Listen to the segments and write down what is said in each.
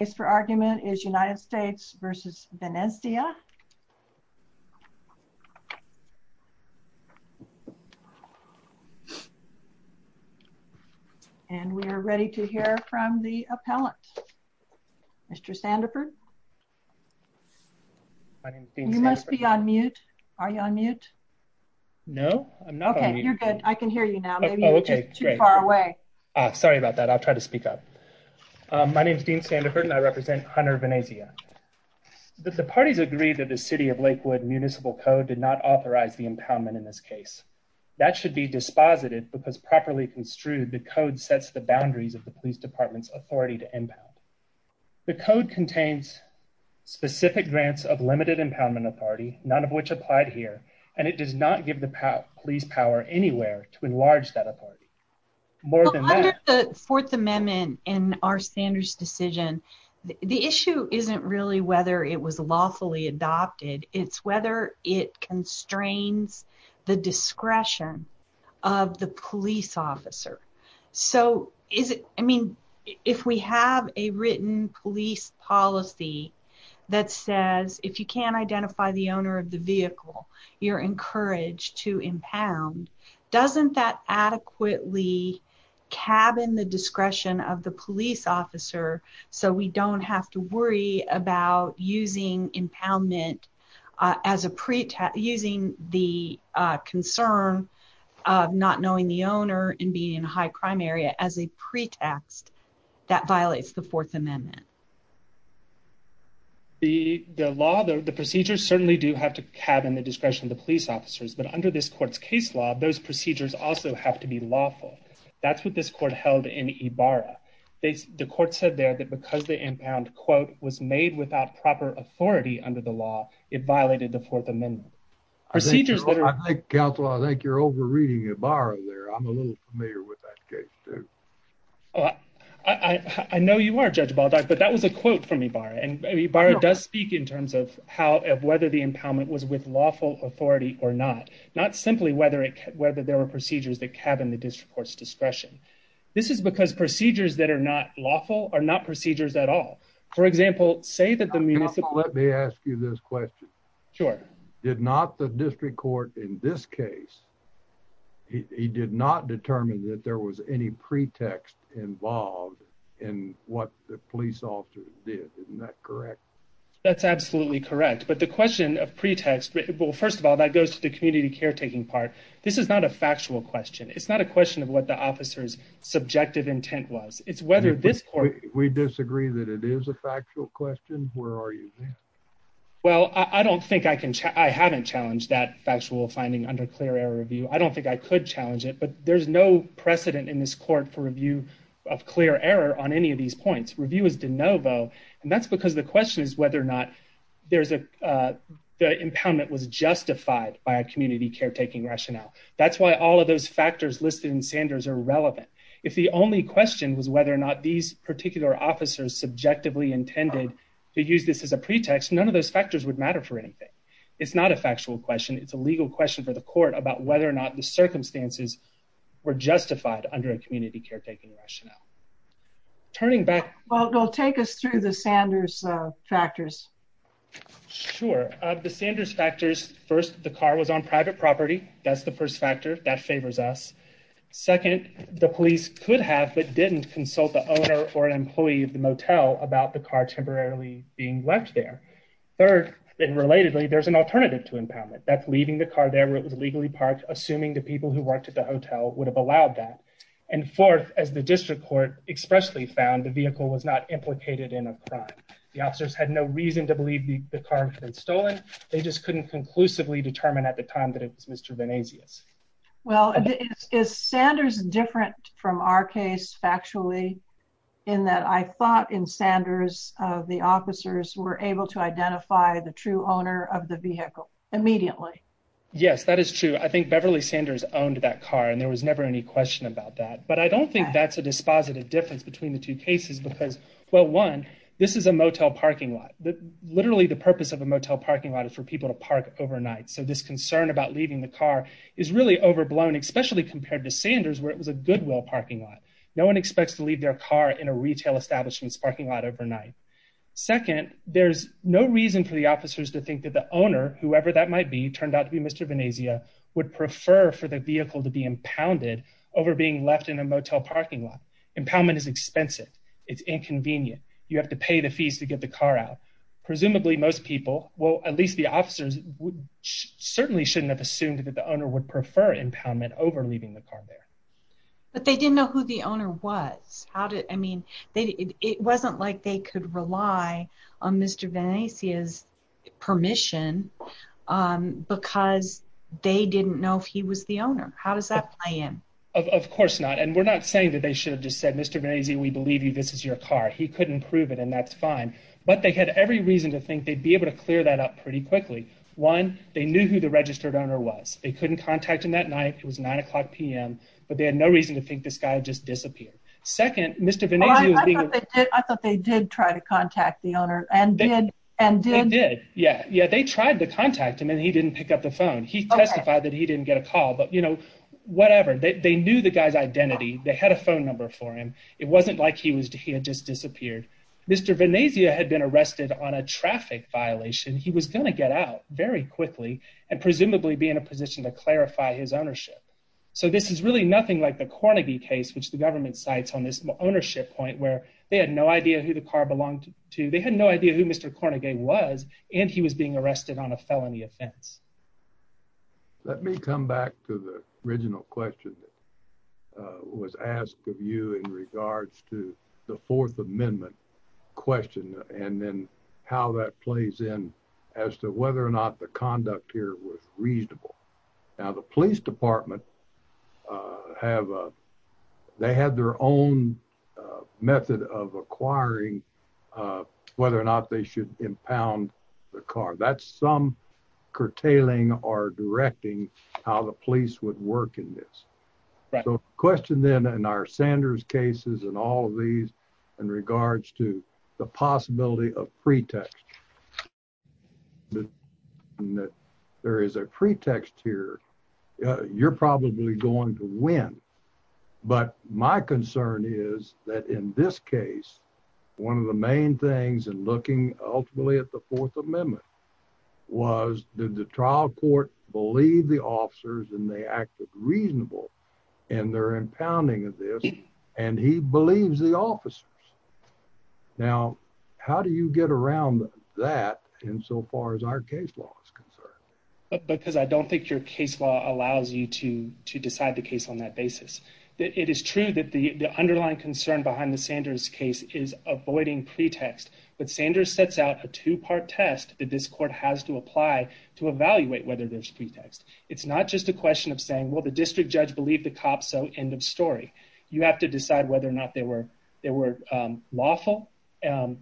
and we are ready to hear from the appellant. Mr. Sandiford, you must be on mute. Are you on mute? No, I'm not. Okay, you're good. I can hear you now. Maybe you're just too far away. Sorry about that. I'll try to speak up. My name is Dean Sandiford and I represent Hunter Venezia. The parties agreed that the City of Lakewood Municipal Code did not authorize the impoundment in this case. That should be disposited because properly construed the code sets the boundaries of the police department's authority to impound. The code contains specific grants of limited impoundment authority, none of which applied here, and it does not give the police power anywhere to enlarge that authority. Under the Fourth Amendment and our standards decision, the issue isn't really whether it was lawfully adopted, it's whether it constrains the discretion of the police officer. So is it, I mean, if we have a written police policy that says if you can't identify the owner of the vehicle, you're encouraged to impound, doesn't that adequately cabin the discretion of the police officer so we don't have to worry about using impoundment as a pretext, using the concern of not knowing the owner and being in a high crime area as a pretext that violates the Fourth Amendment? The law, the procedures certainly do have to cabin the discretion of the police officers, but under this court's case law, those procedures also have to be lawful. That's what this court held in Ibarra. The court said there that because the impound, quote, was made without proper authority under the law, it violated the Fourth Amendment. I think, counsel, I think you're over-reading Ibarra there. I'm a little familiar with that case, too. I know you are, Judge Baldock, but that was a quote from Ibarra, and Ibarra does speak in terms of whether the impoundment was with not simply whether there were procedures that cabin the district court's discretion. This is because procedures that are not lawful are not procedures at all. For example, say that the municipal... Counsel, let me ask you this question. Sure. Did not the district court in this case, he did not determine that there was any pretext involved in what the police officer did, isn't that correct? That's absolutely correct, but the question of pretext, well, first of all, that goes to the community caretaking part. This is not a factual question. It's not a question of what the officer's subjective intent was. It's whether this court... We disagree that it is a factual question. Where are you then? Well, I don't think I can... I haven't challenged that factual finding under clear error review. I don't think I could challenge it, but there's no precedent in this court for review of clear error on any of these points. Review is de novo, and that's because the question is whether or not there's a impoundment was justified by a community caretaking rationale. That's why all of those factors listed in Sanders are relevant. If the only question was whether or not these particular officers subjectively intended to use this as a pretext, none of those factors would matter for anything. It's not a factual question. It's a legal question for the court about whether or not the circumstances were justified under a community caretaking rationale. Turning back... Well, they'll take us through the Sanders factors. First, the car was on private property. That's the first factor. That favors us. Second, the police could have but didn't consult the owner or an employee of the motel about the car temporarily being left there. Third, and relatedly, there's an alternative to impoundment. That's leaving the car there where it was legally parked, assuming the people who worked at the hotel would have allowed that. And fourth, as the district court expressly found, the vehicle was not implicated in a crime. The officers had no reason to believe the car had been stolen. They just couldn't conclusively determine at the time that it was Mr. Venasius. Well, is Sanders different from our case factually in that I thought in Sanders the officers were able to identify the true owner of the vehicle immediately? Yes, that is true. I think Beverly Sanders owned that car and there was never any question about that. But I don't think that's a dispositive difference between the two cases because, well, one, this is a motel parking lot that literally the purpose of a motel parking lot is for people to park overnight. So this concern about leaving the car is really overblown, especially compared to Sanders, where it was a goodwill parking lot. No one expects to leave their car in a retail establishments parking lot overnight. Second, there's no reason for the officers to think that the owner, whoever that might be, turned out to be Mr. Venasia would prefer for the vehicle to be impounded over being left in a motel parking lot. Impoundment is expensive. It's inconvenient. You have to pay the fees to get the car out. Presumably, most people, well, at least the officers would certainly shouldn't have assumed that the owner would prefer impoundment over leaving the car there. But they didn't know who the owner was. How did, I mean, it wasn't like they could rely on Mr. Venasia's permission because they didn't know if he was the owner. How does that play in? Of course not. And we're not saying that they should have just said, Mr. Venasia, we believe you, this is your car. He couldn't prove it and that's fine. But they had every reason to think they'd be able to clear that up pretty quickly. One, they knew who the registered owner was. They couldn't contact him that night. It was nine o'clock p.m., but they had no reason to think this guy just disappeared. Second, Mr. Venasia was being- I thought they did try to contact the owner and did. They did. Yeah. Yeah. They tried to contact him and he didn't pick up the phone. He testified that he didn't get a call, but whatever. They knew the guy's identity. They had a phone number for him. It wasn't like he had just disappeared. Mr. Venasia had been arrested on a traffic violation. He was going to get out very quickly and presumably be in a position to clarify his ownership. So this is really nothing like the Cornegay case, which the government cites on this ownership point where they had no idea who the car belonged to. They had no idea who Mr. Cornegay was and he was being arrested on a felony offense. Let me come back to the original question that was asked of you in regards to the Fourth Amendment question and then how that plays in as to whether or not the conduct here was reasonable. Now, the police department have- they had their own method of acquiring whether or not they should impound the car. That's some curtailing or directing how the police would work in this. So question then in our Sanders cases and all of these in regards to the possibility of pretext. There is a pretext here. You're probably going to win, but my concern is that in this case, one of the main things in looking ultimately at the Fourth Amendment was did the trial court believe the officers and they acted reasonable in their impounding of this and he believes the officers. Now, how do you get around that insofar as our case law is concerned? Because I don't think your case law allows you to that. It is true that the underlying concern behind the Sanders case is avoiding pretext, but Sanders sets out a two-part test that this court has to apply to evaluate whether there's pretext. It's not just a question of saying, well, the district judge believed the cops, so end of story. You have to decide whether or not there were lawful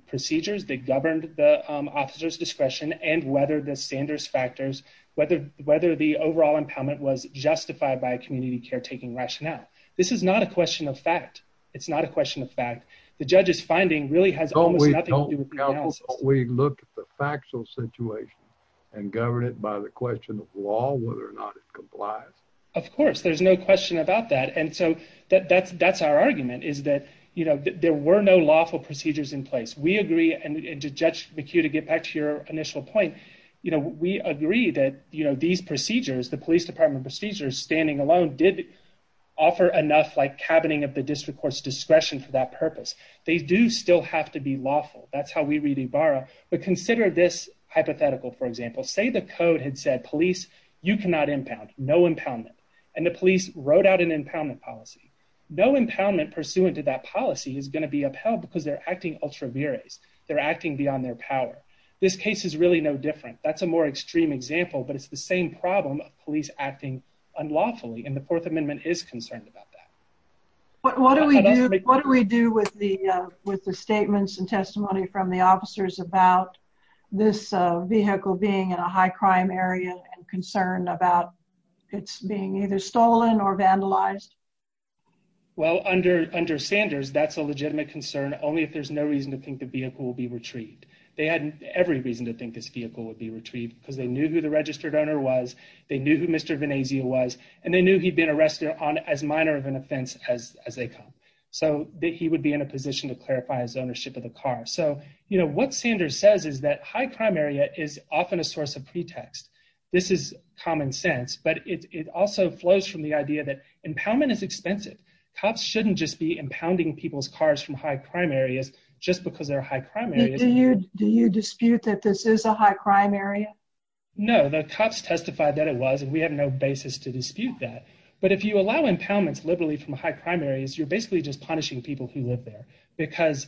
procedures that governed the officer's discretion and whether the Sanders factors, whether the overall impoundment was justified by a community caretaking rationale. This is not a question of fact. It's not a question of fact. The judge's finding really has almost nothing to do with the analysis. Don't we look at the factual situation and govern it by the question of law, whether or not it complies? Of course, there's no question about that. And so that's our argument is that there were no lawful procedures in place. We agree, and Judge McHugh, to get back to your initial point, we agree that these procedures, the police department procedures standing alone did offer enough like cabining of the district court's discretion for that purpose. They do still have to be lawful. That's how we read Ibarra. But consider this hypothetical, for example, say the code had said, police, you cannot impound, no impoundment. And the police wrote out an impoundment policy. No impoundment pursuant to that policy is going to be upheld because they're acting ultra viris. They're acting beyond their power. This case is really no different. That's a more extreme example, but it's the same problem of police acting unlawfully. And the fourth amendment is concerned about that. But what do we do with the statements and testimony from the officers about this vehicle being in a high crime area and concern about it's being either stolen or vandalized? Well, under Sanders, that's a legitimate concern only if there's no reason to think the vehicle will be retrieved. They had every reason to think this vehicle would be retrieved because they knew who the registered owner was. They knew who Mr. Venezia was, and they knew he'd been arrested on as minor of an offense as they come. So that he would be in a position to clarify his ownership of the car. So what Sanders says is that high crime area is often a source of pretext. This is common sense, but it also flows from the idea that impoundment is expensive. Cops shouldn't just be impounding people's cars from high crime areas just because they're high crime areas. Do you dispute that this is a high crime area? No, the cops testified that it was, and we have no basis to dispute that. But if you allow impoundments liberally from high crime areas, you're basically just punishing people who live there because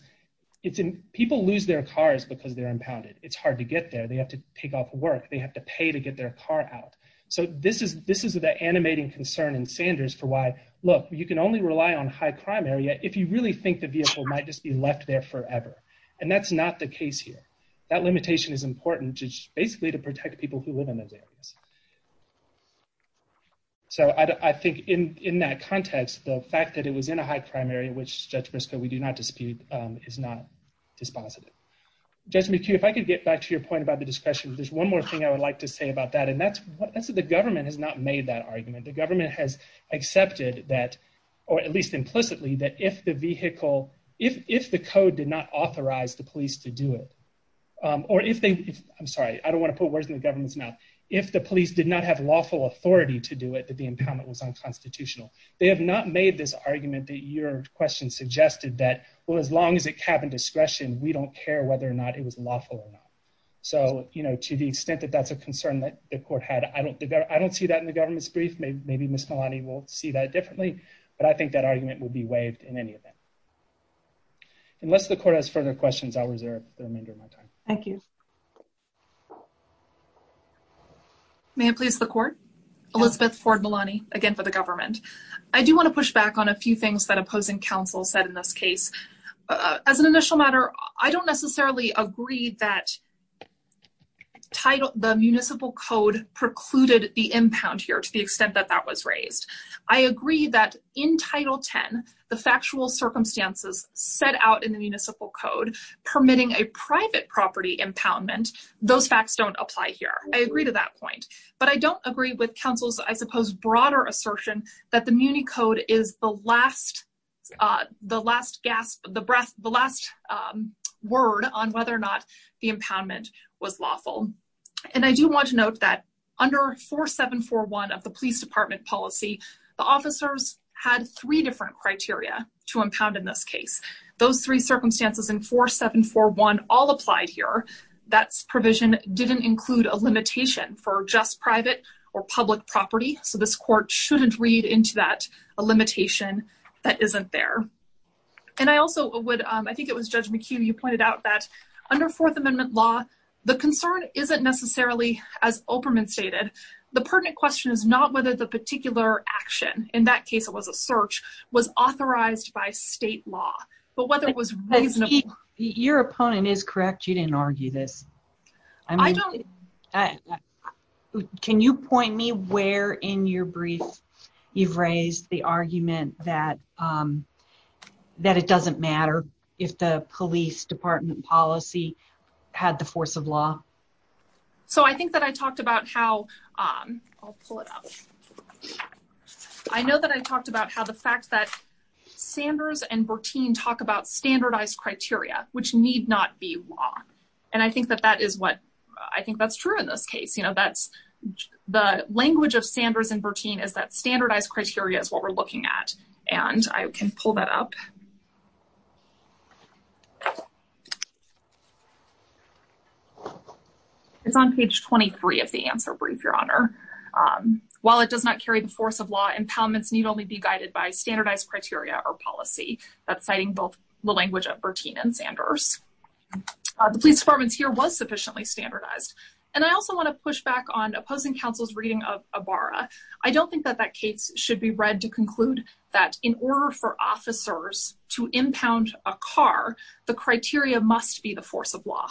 people lose their cars because they're impounded. It's hard to get there. They have to take off work. They have to pay to get their car out. So this is the animating concern in Sanders for why, look, you can only rely on high crime area if you really think the vehicle might just be left there forever. And that's not the case here. That limitation is important just basically to protect people who live in those areas. So I think in that context, the fact that it was in a high crime area, which Judge Briscoe, we do not dispute, is not dispositive. Judge McHugh, if I could get back to your point about the discretion, there's one more thing I would like to say about that. And that's that the government has not made that argument. The government has accepted that, or at least implicitly, that if the vehicle, if the code did not authorize the police to do it, or if they, I'm sorry, I don't want to put words in the government's mouth, if the police did not have lawful authority to do it, that the impoundment was unconstitutional. They have not made this argument that your question suggested that, well, as long as it discretion, we don't care whether or not it was lawful or not. So to the extent that that's a concern that the court had, I don't see that in the government's brief. Maybe Ms. Malani will see that differently. But I think that argument will be waived in any event. Unless the court has further questions, I'll reserve the remainder of my time. Thank you. May it please the court? Elizabeth Ford Malani, again, for the government. I do want to push back on a few things that opposing counsel said in this case. As an initial matter, I don't necessarily agree that the municipal code precluded the impound here to the extent that that was raised. I agree that in Title 10, the factual circumstances set out in the municipal code permitting a private property impoundment, those facts don't apply here. I agree to that point. But I don't agree with counsel's, I suppose, broader assertion that the muni code is the last word on whether or not the impoundment was lawful. And I do want to note that under 4741 of the police department policy, the officers had three different criteria to impound in this case. Those three circumstances in 4741 all applied here. That provision didn't include a limitation for just private or public property. So this court shouldn't read into that a limitation that isn't there. And I also would, I think it was Judge McHugh, you pointed out that under Fourth Amendment law, the concern isn't necessarily, as Opperman stated, the pertinent question is not whether the particular action, in that case, it was a search, was authorized by state law, but whether it was reasonable. Your opponent is correct. You didn't argue this. I don't. Can you point me where in your brief you've raised the argument that it doesn't matter if the police department policy had the force of law? So I think that I talked about how, I'll pull it up. I know that I talked about how the fact that Sanders and Bertine talk about standardized criteria, which need not be law. And I think that that is what, I think that's true in this case. You know, that's the language of Sanders and Bertine is that standardized criteria is what we're looking at. And I can pull that up. It's on page 23 of the answer brief, Your Honor. While it does not carry the force of law, impoundments need only be guided by standardized criteria or policy. That's citing both the language of Bertine and Sanders. The police department here was sufficiently standardized. And I also want to push back on opposing counsel's reading of Ibarra. I don't think that that case should be read to conclude that in order for officers to impound a car, the criteria must be the force of law.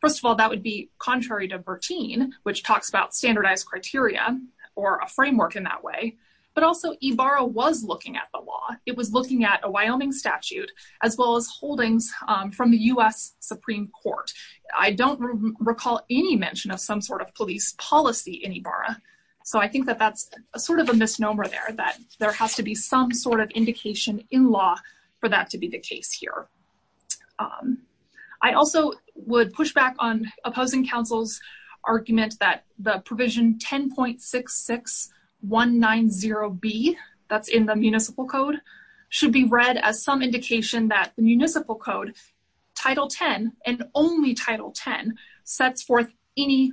First of all, that would be contrary to Bertine, which talks about standardized criteria or a framework in that way. But also Ibarra was looking at the law, it was looking at a Wyoming statute, as well as holdings from the US Supreme Court. I don't recall any mention of some sort of police policy in Ibarra. So I think that that's a sort of a misnomer there that there has to be some sort of indication in law for that to be the case here. I also would push back on opposing counsel's the provision 10.66190B, that's in the municipal code, should be read as some indication that the municipal code, Title 10, and only Title 10, sets forth any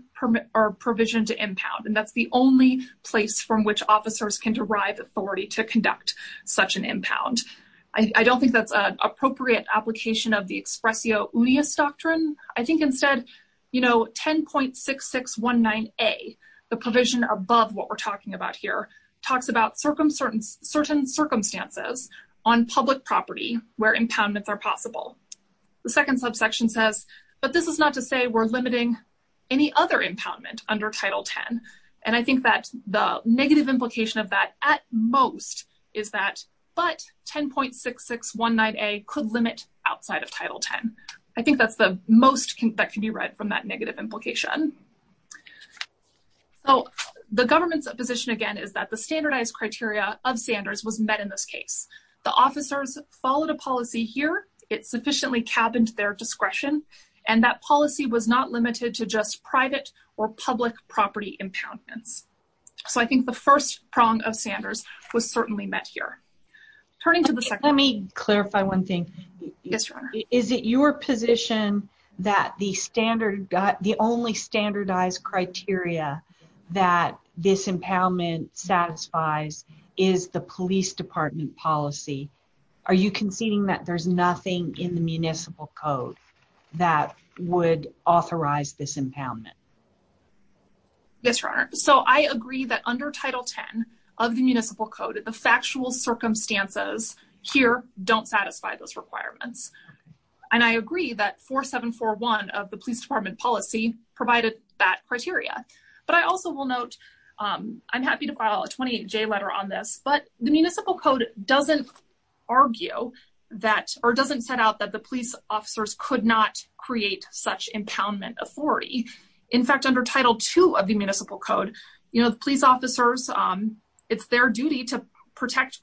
provision to impound. And that's the only place from which officers can derive authority to conduct such an impound. I don't think that's appropriate application of the expressio unius doctrine. I think instead, you know, 10.6619A, the provision above what we're talking about here, talks about certain circumstances on public property where impoundments are possible. The second subsection says, but this is not to say we're limiting any other impoundment under Title 10. And I think that the negative implication of at most is that but 10.6619A could limit outside of Title 10. I think that's the most that can be read from that negative implication. So the government's position, again, is that the standardized criteria of Sanders was met in this case. The officers followed a policy here, it sufficiently cabined their discretion, and that policy was not limited to just private or public property impoundments. So I think the first prong of Sanders was certainly met here. Turning to the second- Let me clarify one thing. Yes, Your Honor. Is it your position that the only standardized criteria that this impoundment satisfies is the police department policy? Are you conceding that there's nothing in the municipal code that would authorize this impoundment? Yes, Your Honor. So I agree that under Title 10 of the municipal code, the factual circumstances here don't satisfy those requirements. And I agree that 4741 of the police department policy provided that criteria. But I also will note, I'm happy to file a 28J letter on this, but the officers could not create such impoundment authority. In fact, under Title II of the municipal code, the police officers, it's their duty to prevent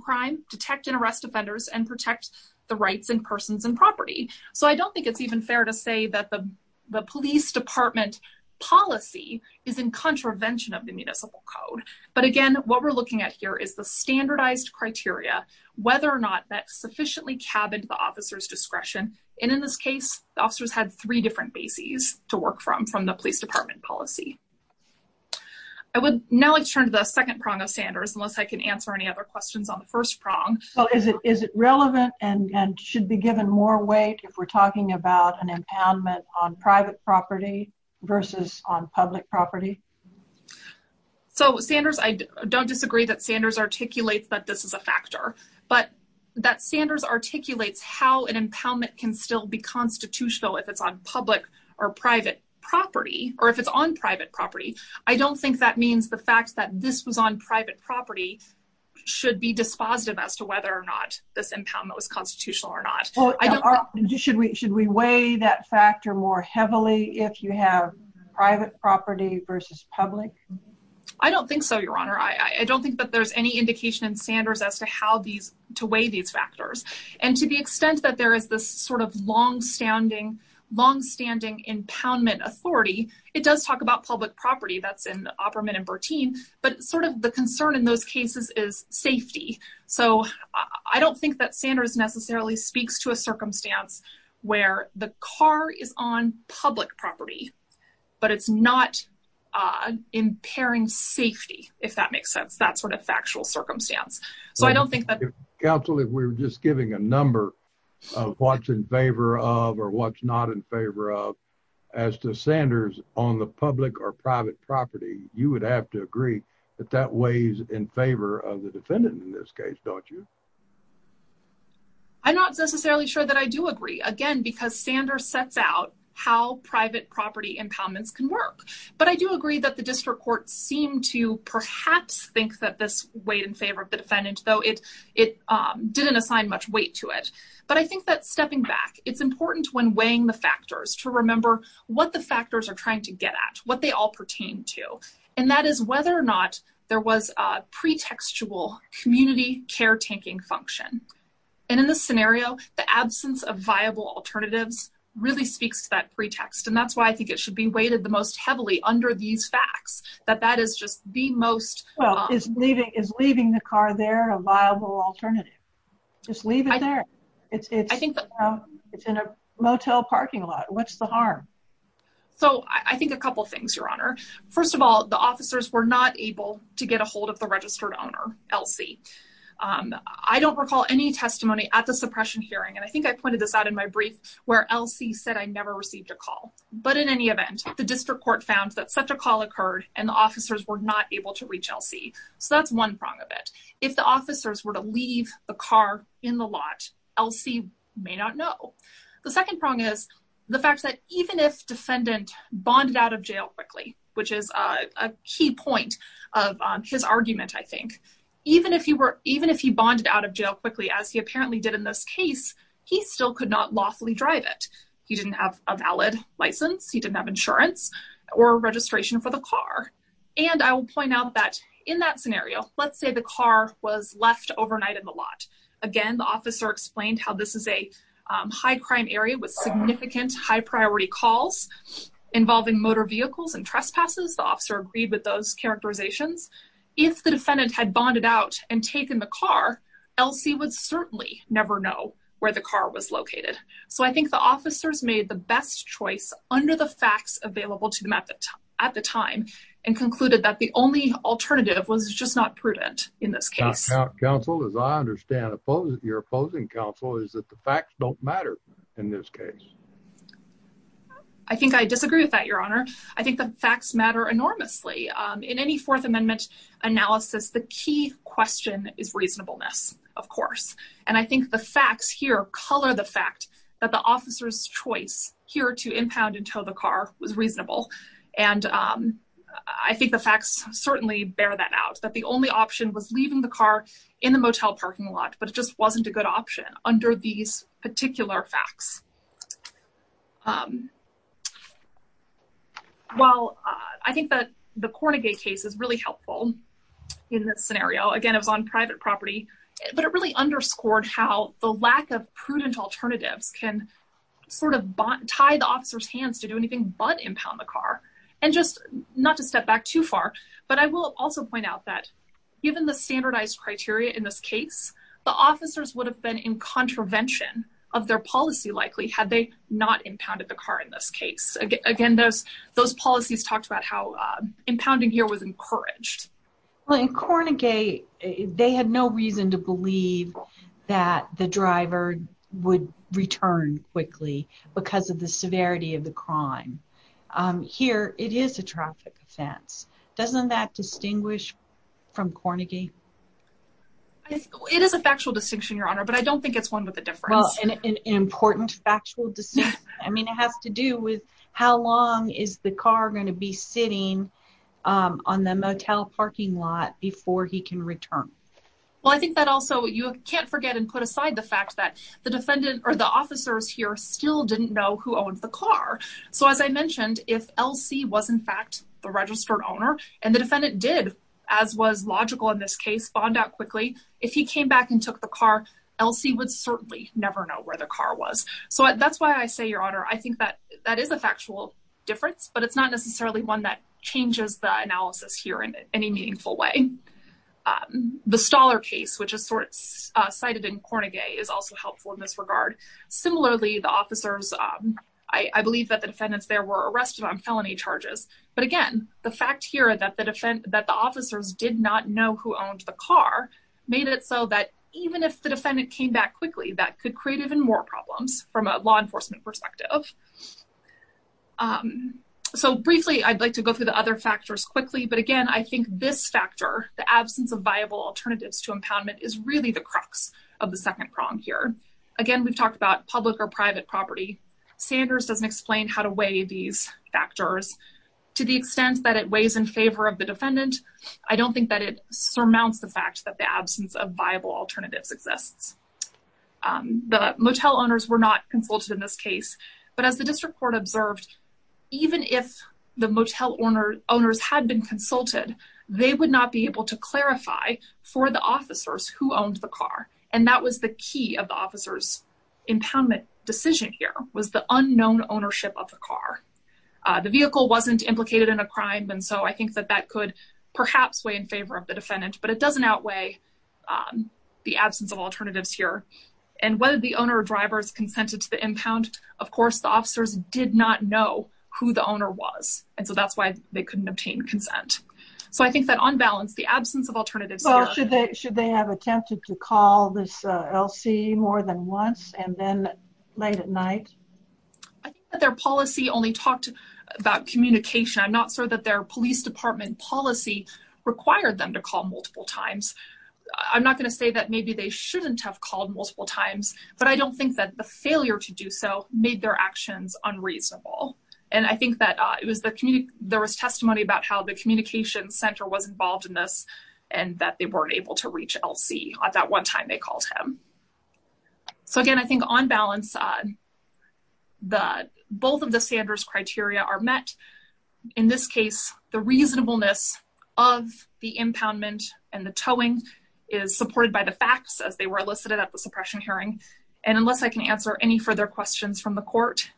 crime, detect and arrest offenders, and protect the rights and persons and property. So I don't think it's even fair to say that the police department policy is in contravention of the municipal code. But again, what we're looking at here is the standardized criteria, whether or not that sufficiently cabined the discretion. And in this case, the officers had three different bases to work from, from the police department policy. I would now like to turn to the second prong of Sanders, unless I can answer any other questions on the first prong. Well, is it relevant and should be given more weight if we're talking about an impoundment on private property versus on public property? So Sanders, I don't disagree that Sanders articulates that this is a factor, but that Sanders articulates how an impoundment can still be constitutional if it's on public or private property, or if it's on private property. I don't think that means the fact that this was on private property should be dispositive as to whether or not this impoundment was constitutional or not. Should we should we weigh that factor more heavily if you have private property versus public? I don't think so, Your Honor. I don't think that there's any indication in Sanders as to how these, to weigh these factors. And to the extent that there is this sort of longstanding, longstanding impoundment authority, it does talk about public property, that's in Opperman and Bertin, but sort of the concern in those cases is safety. So I don't think that Sanders necessarily speaks to a circumstance where the car is on public property, but it's not impairing safety, if that makes sense, that sort of factual circumstance. So I don't think that- Counsel, if we're just giving a number of what's in favor of or what's not in favor of, as to Sanders on the public or private property, you would have to agree that that weighs in favor of the defendant in this case, don't you? I'm not necessarily sure that I do agree. Again, because Sanders sets out how private property impoundments can work. But I do agree that the district court seemed to perhaps think that this weighed in favor of the defendant, though it didn't assign much weight to it. But I think that stepping back, it's important when weighing the factors to remember what the factors are trying to get at, what they all pertain to. And that is whether or not there was a pretextual community caretaking function. And in this scenario, the absence of viable alternatives really speaks to that pretext. And that's why I think it should be weighted the most heavily under these facts, that that is just the most- Well, is leaving the car there a viable alternative? Just leave it there. It's in a motel parking lot. What's the harm? So I think a couple of things, Your Honor. First of all, the officers were not able to get ahold of the registered owner, Elsie. I don't recall any testimony at the suppression hearing, and I think I pointed this out in my brief, where Elsie said, I never received a call. But in any event, the district court found that such a call occurred, and the officers were not able to reach Elsie. So that's one prong of it. If the officers were to leave the car in the lot, Elsie may not know. The second prong is the fact that even if defendant bonded out of jail quickly, which is a key point of his argument, I think, even if he were- even if he bonded out of jail quickly, as he apparently did in this case, he still could not lawfully drive it. He didn't have a valid license. He didn't have insurance or registration for the car. And I will point out that in that scenario, let's say the car was left overnight in the lot. Again, the officer explained how this is a high-crime area with significant high-priority calls involving motor vehicles and trespasses. The officer agreed with those characterizations. If the defendant had bonded out and taken the car, Elsie would certainly never know where the car was located. So I think the officers made the best choice under the facts available to them at the time, and concluded that the only alternative was just not prudent in this case. Counsel, as I understand it, your opposing counsel is that the facts don't matter in this case. I think I disagree with that, Your Honor. I think the facts matter enormously. In any Fourth Amendment analysis, the key question is reasonableness, of course. And I think the facts here color the fact that the officer's choice here to impound and tow the car was reasonable. And I think the facts certainly bear that out, that the only option was leaving the car in the motel parking lot, but it just wasn't a good option under these The Kornegay case is really helpful in this scenario. Again, it was on private property, but it really underscored how the lack of prudent alternatives can tie the officer's hands to do anything but impound the car. And just not to step back too far, but I will also point out that given the standardized criteria in this case, the officers would have been in contravention of their policy likely had they not impounded the car in this case. Again, those policies talked about how impounding here was encouraged. Well, in Kornegay, they had no reason to believe that the driver would return quickly because of the severity of the crime. Here, it is a traffic offense. Doesn't that distinguish from Kornegay? It is a factual distinction, Your Honor, but I don't think it's one with a difference. Well, an important factual distinction. I mean, it has to do with how long is the car going to be sitting on the motel parking lot before he can return? Well, I think that also you can't forget and put aside the fact that the defendant or the officers here still didn't know who owned the car. So as I mentioned, if LC was in fact the registered owner and the defendant did, as was logical in this case, bond out quickly, if he came back and took the car, LC would certainly never know where the car was. So that's why I say, Your Honor, I think that that is a factual difference, but it's not necessarily one that changes the analysis here in any meaningful way. The Stoller case, which is cited in Kornegay, is also helpful in this regard. Similarly, the officers, I believe that the defendants there were arrested on felony charges. But again, the fact here that the officers did not know who owned the car made it so that even if the defendant came back quickly, that could create even more problems from a law enforcement perspective. So briefly, I'd like to go through the other factors quickly. But again, I think this factor, the absence of viable alternatives to impoundment is really the crux of the second prong here. Again, we've talked about public or private property. Sanders doesn't explain how to weigh these factors to the extent that it weighs in favor of the defendant. I don't think that it surmounts the fact that the absence of viable alternatives exists. The motel owners were not consulted in this case. But as the district court observed, even if the motel owners had been consulted, they would not be able to clarify for the officers who owned the car. And that was the key of the officer's impoundment decision here was the unknown ownership of the car. The vehicle wasn't implicated in a crime. And so I think that that could perhaps weigh in favor of the defendant, but it doesn't outweigh the absence of alternatives here. And whether the owner or impound, of course, the officers did not know who the owner was. And so that's why they couldn't obtain consent. So I think that on balance, the absence of alternatives, should they have attempted to call this LC more than once and then late at night, their policy only talked about communication, I'm not sure that their police department policy required them to call multiple times. I'm not going to say that maybe they shouldn't have called multiple times. But I think that the fact that they were able to do so made their actions unreasonable. And I think that it was the community, there was testimony about how the communication center was involved in this, and that they weren't able to reach LC at that one time they called him. So again, I think on balance, the both of the Sanders criteria are met. In this case, the reasonableness of the impoundment and the towing is supported by the facts as they were elicited at the suppression hearing. And unless I can answer any further questions from the court,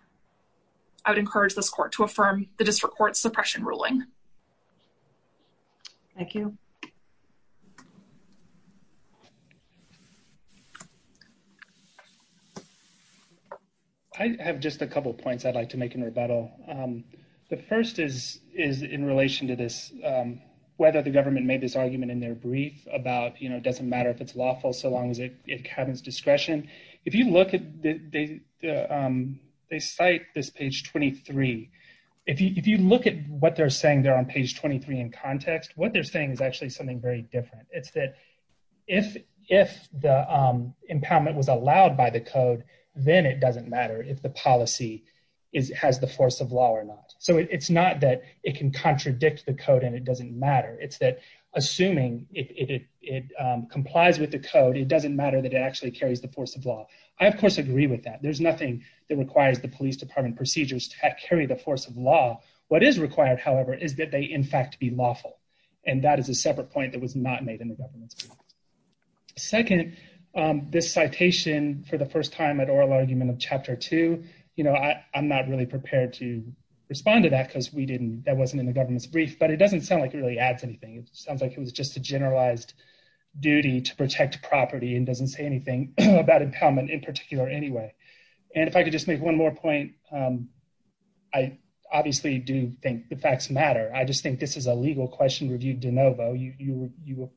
I would encourage this court to affirm the district court suppression ruling. Thank you. I have just a couple points I'd like to make in rebuttal. The first is in relation to this, whether the government made this argument in their brief about, you know, it doesn't matter if it's lawful so long as it happens discretion. If you look at they cite this page 23, if you look at what they're saying there on page 23 in context, what they're saying is actually something very different. It's that if the impoundment was allowed by the code, then it doesn't matter if the policy has the force of law or not. So it's not that it can contradict the code and it doesn't matter. It's that assuming it complies with the code, it doesn't matter that it actually carries the force of law. I, of course, agree with that. There's nothing that requires the police department procedures to carry the force of law. What is required, however, is that they in fact be lawful. And that is a separate point that was not made in the government's brief. Second, this citation for the first time at oral argument of chapter 2, you know, I'm not really prepared to respond to that because we didn't, that wasn't in the government's brief, but it doesn't sound like it really adds anything. It sounds like it was just a generalized duty to protect property and doesn't say anything about impoundment in particular anyway. And if I could just make one more point, I obviously do think the facts matter. I just think this is a legal question reviewed de novo. You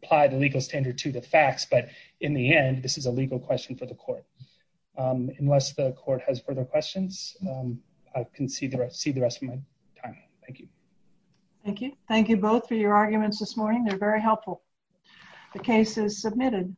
apply the legal standard to the facts, but in the end, this is a legal question for the court. Unless the court has further questions, I can see the rest of my time. Thank you. Thank you. Thank you both for your arguments this morning. They're very helpful. The case is submitted.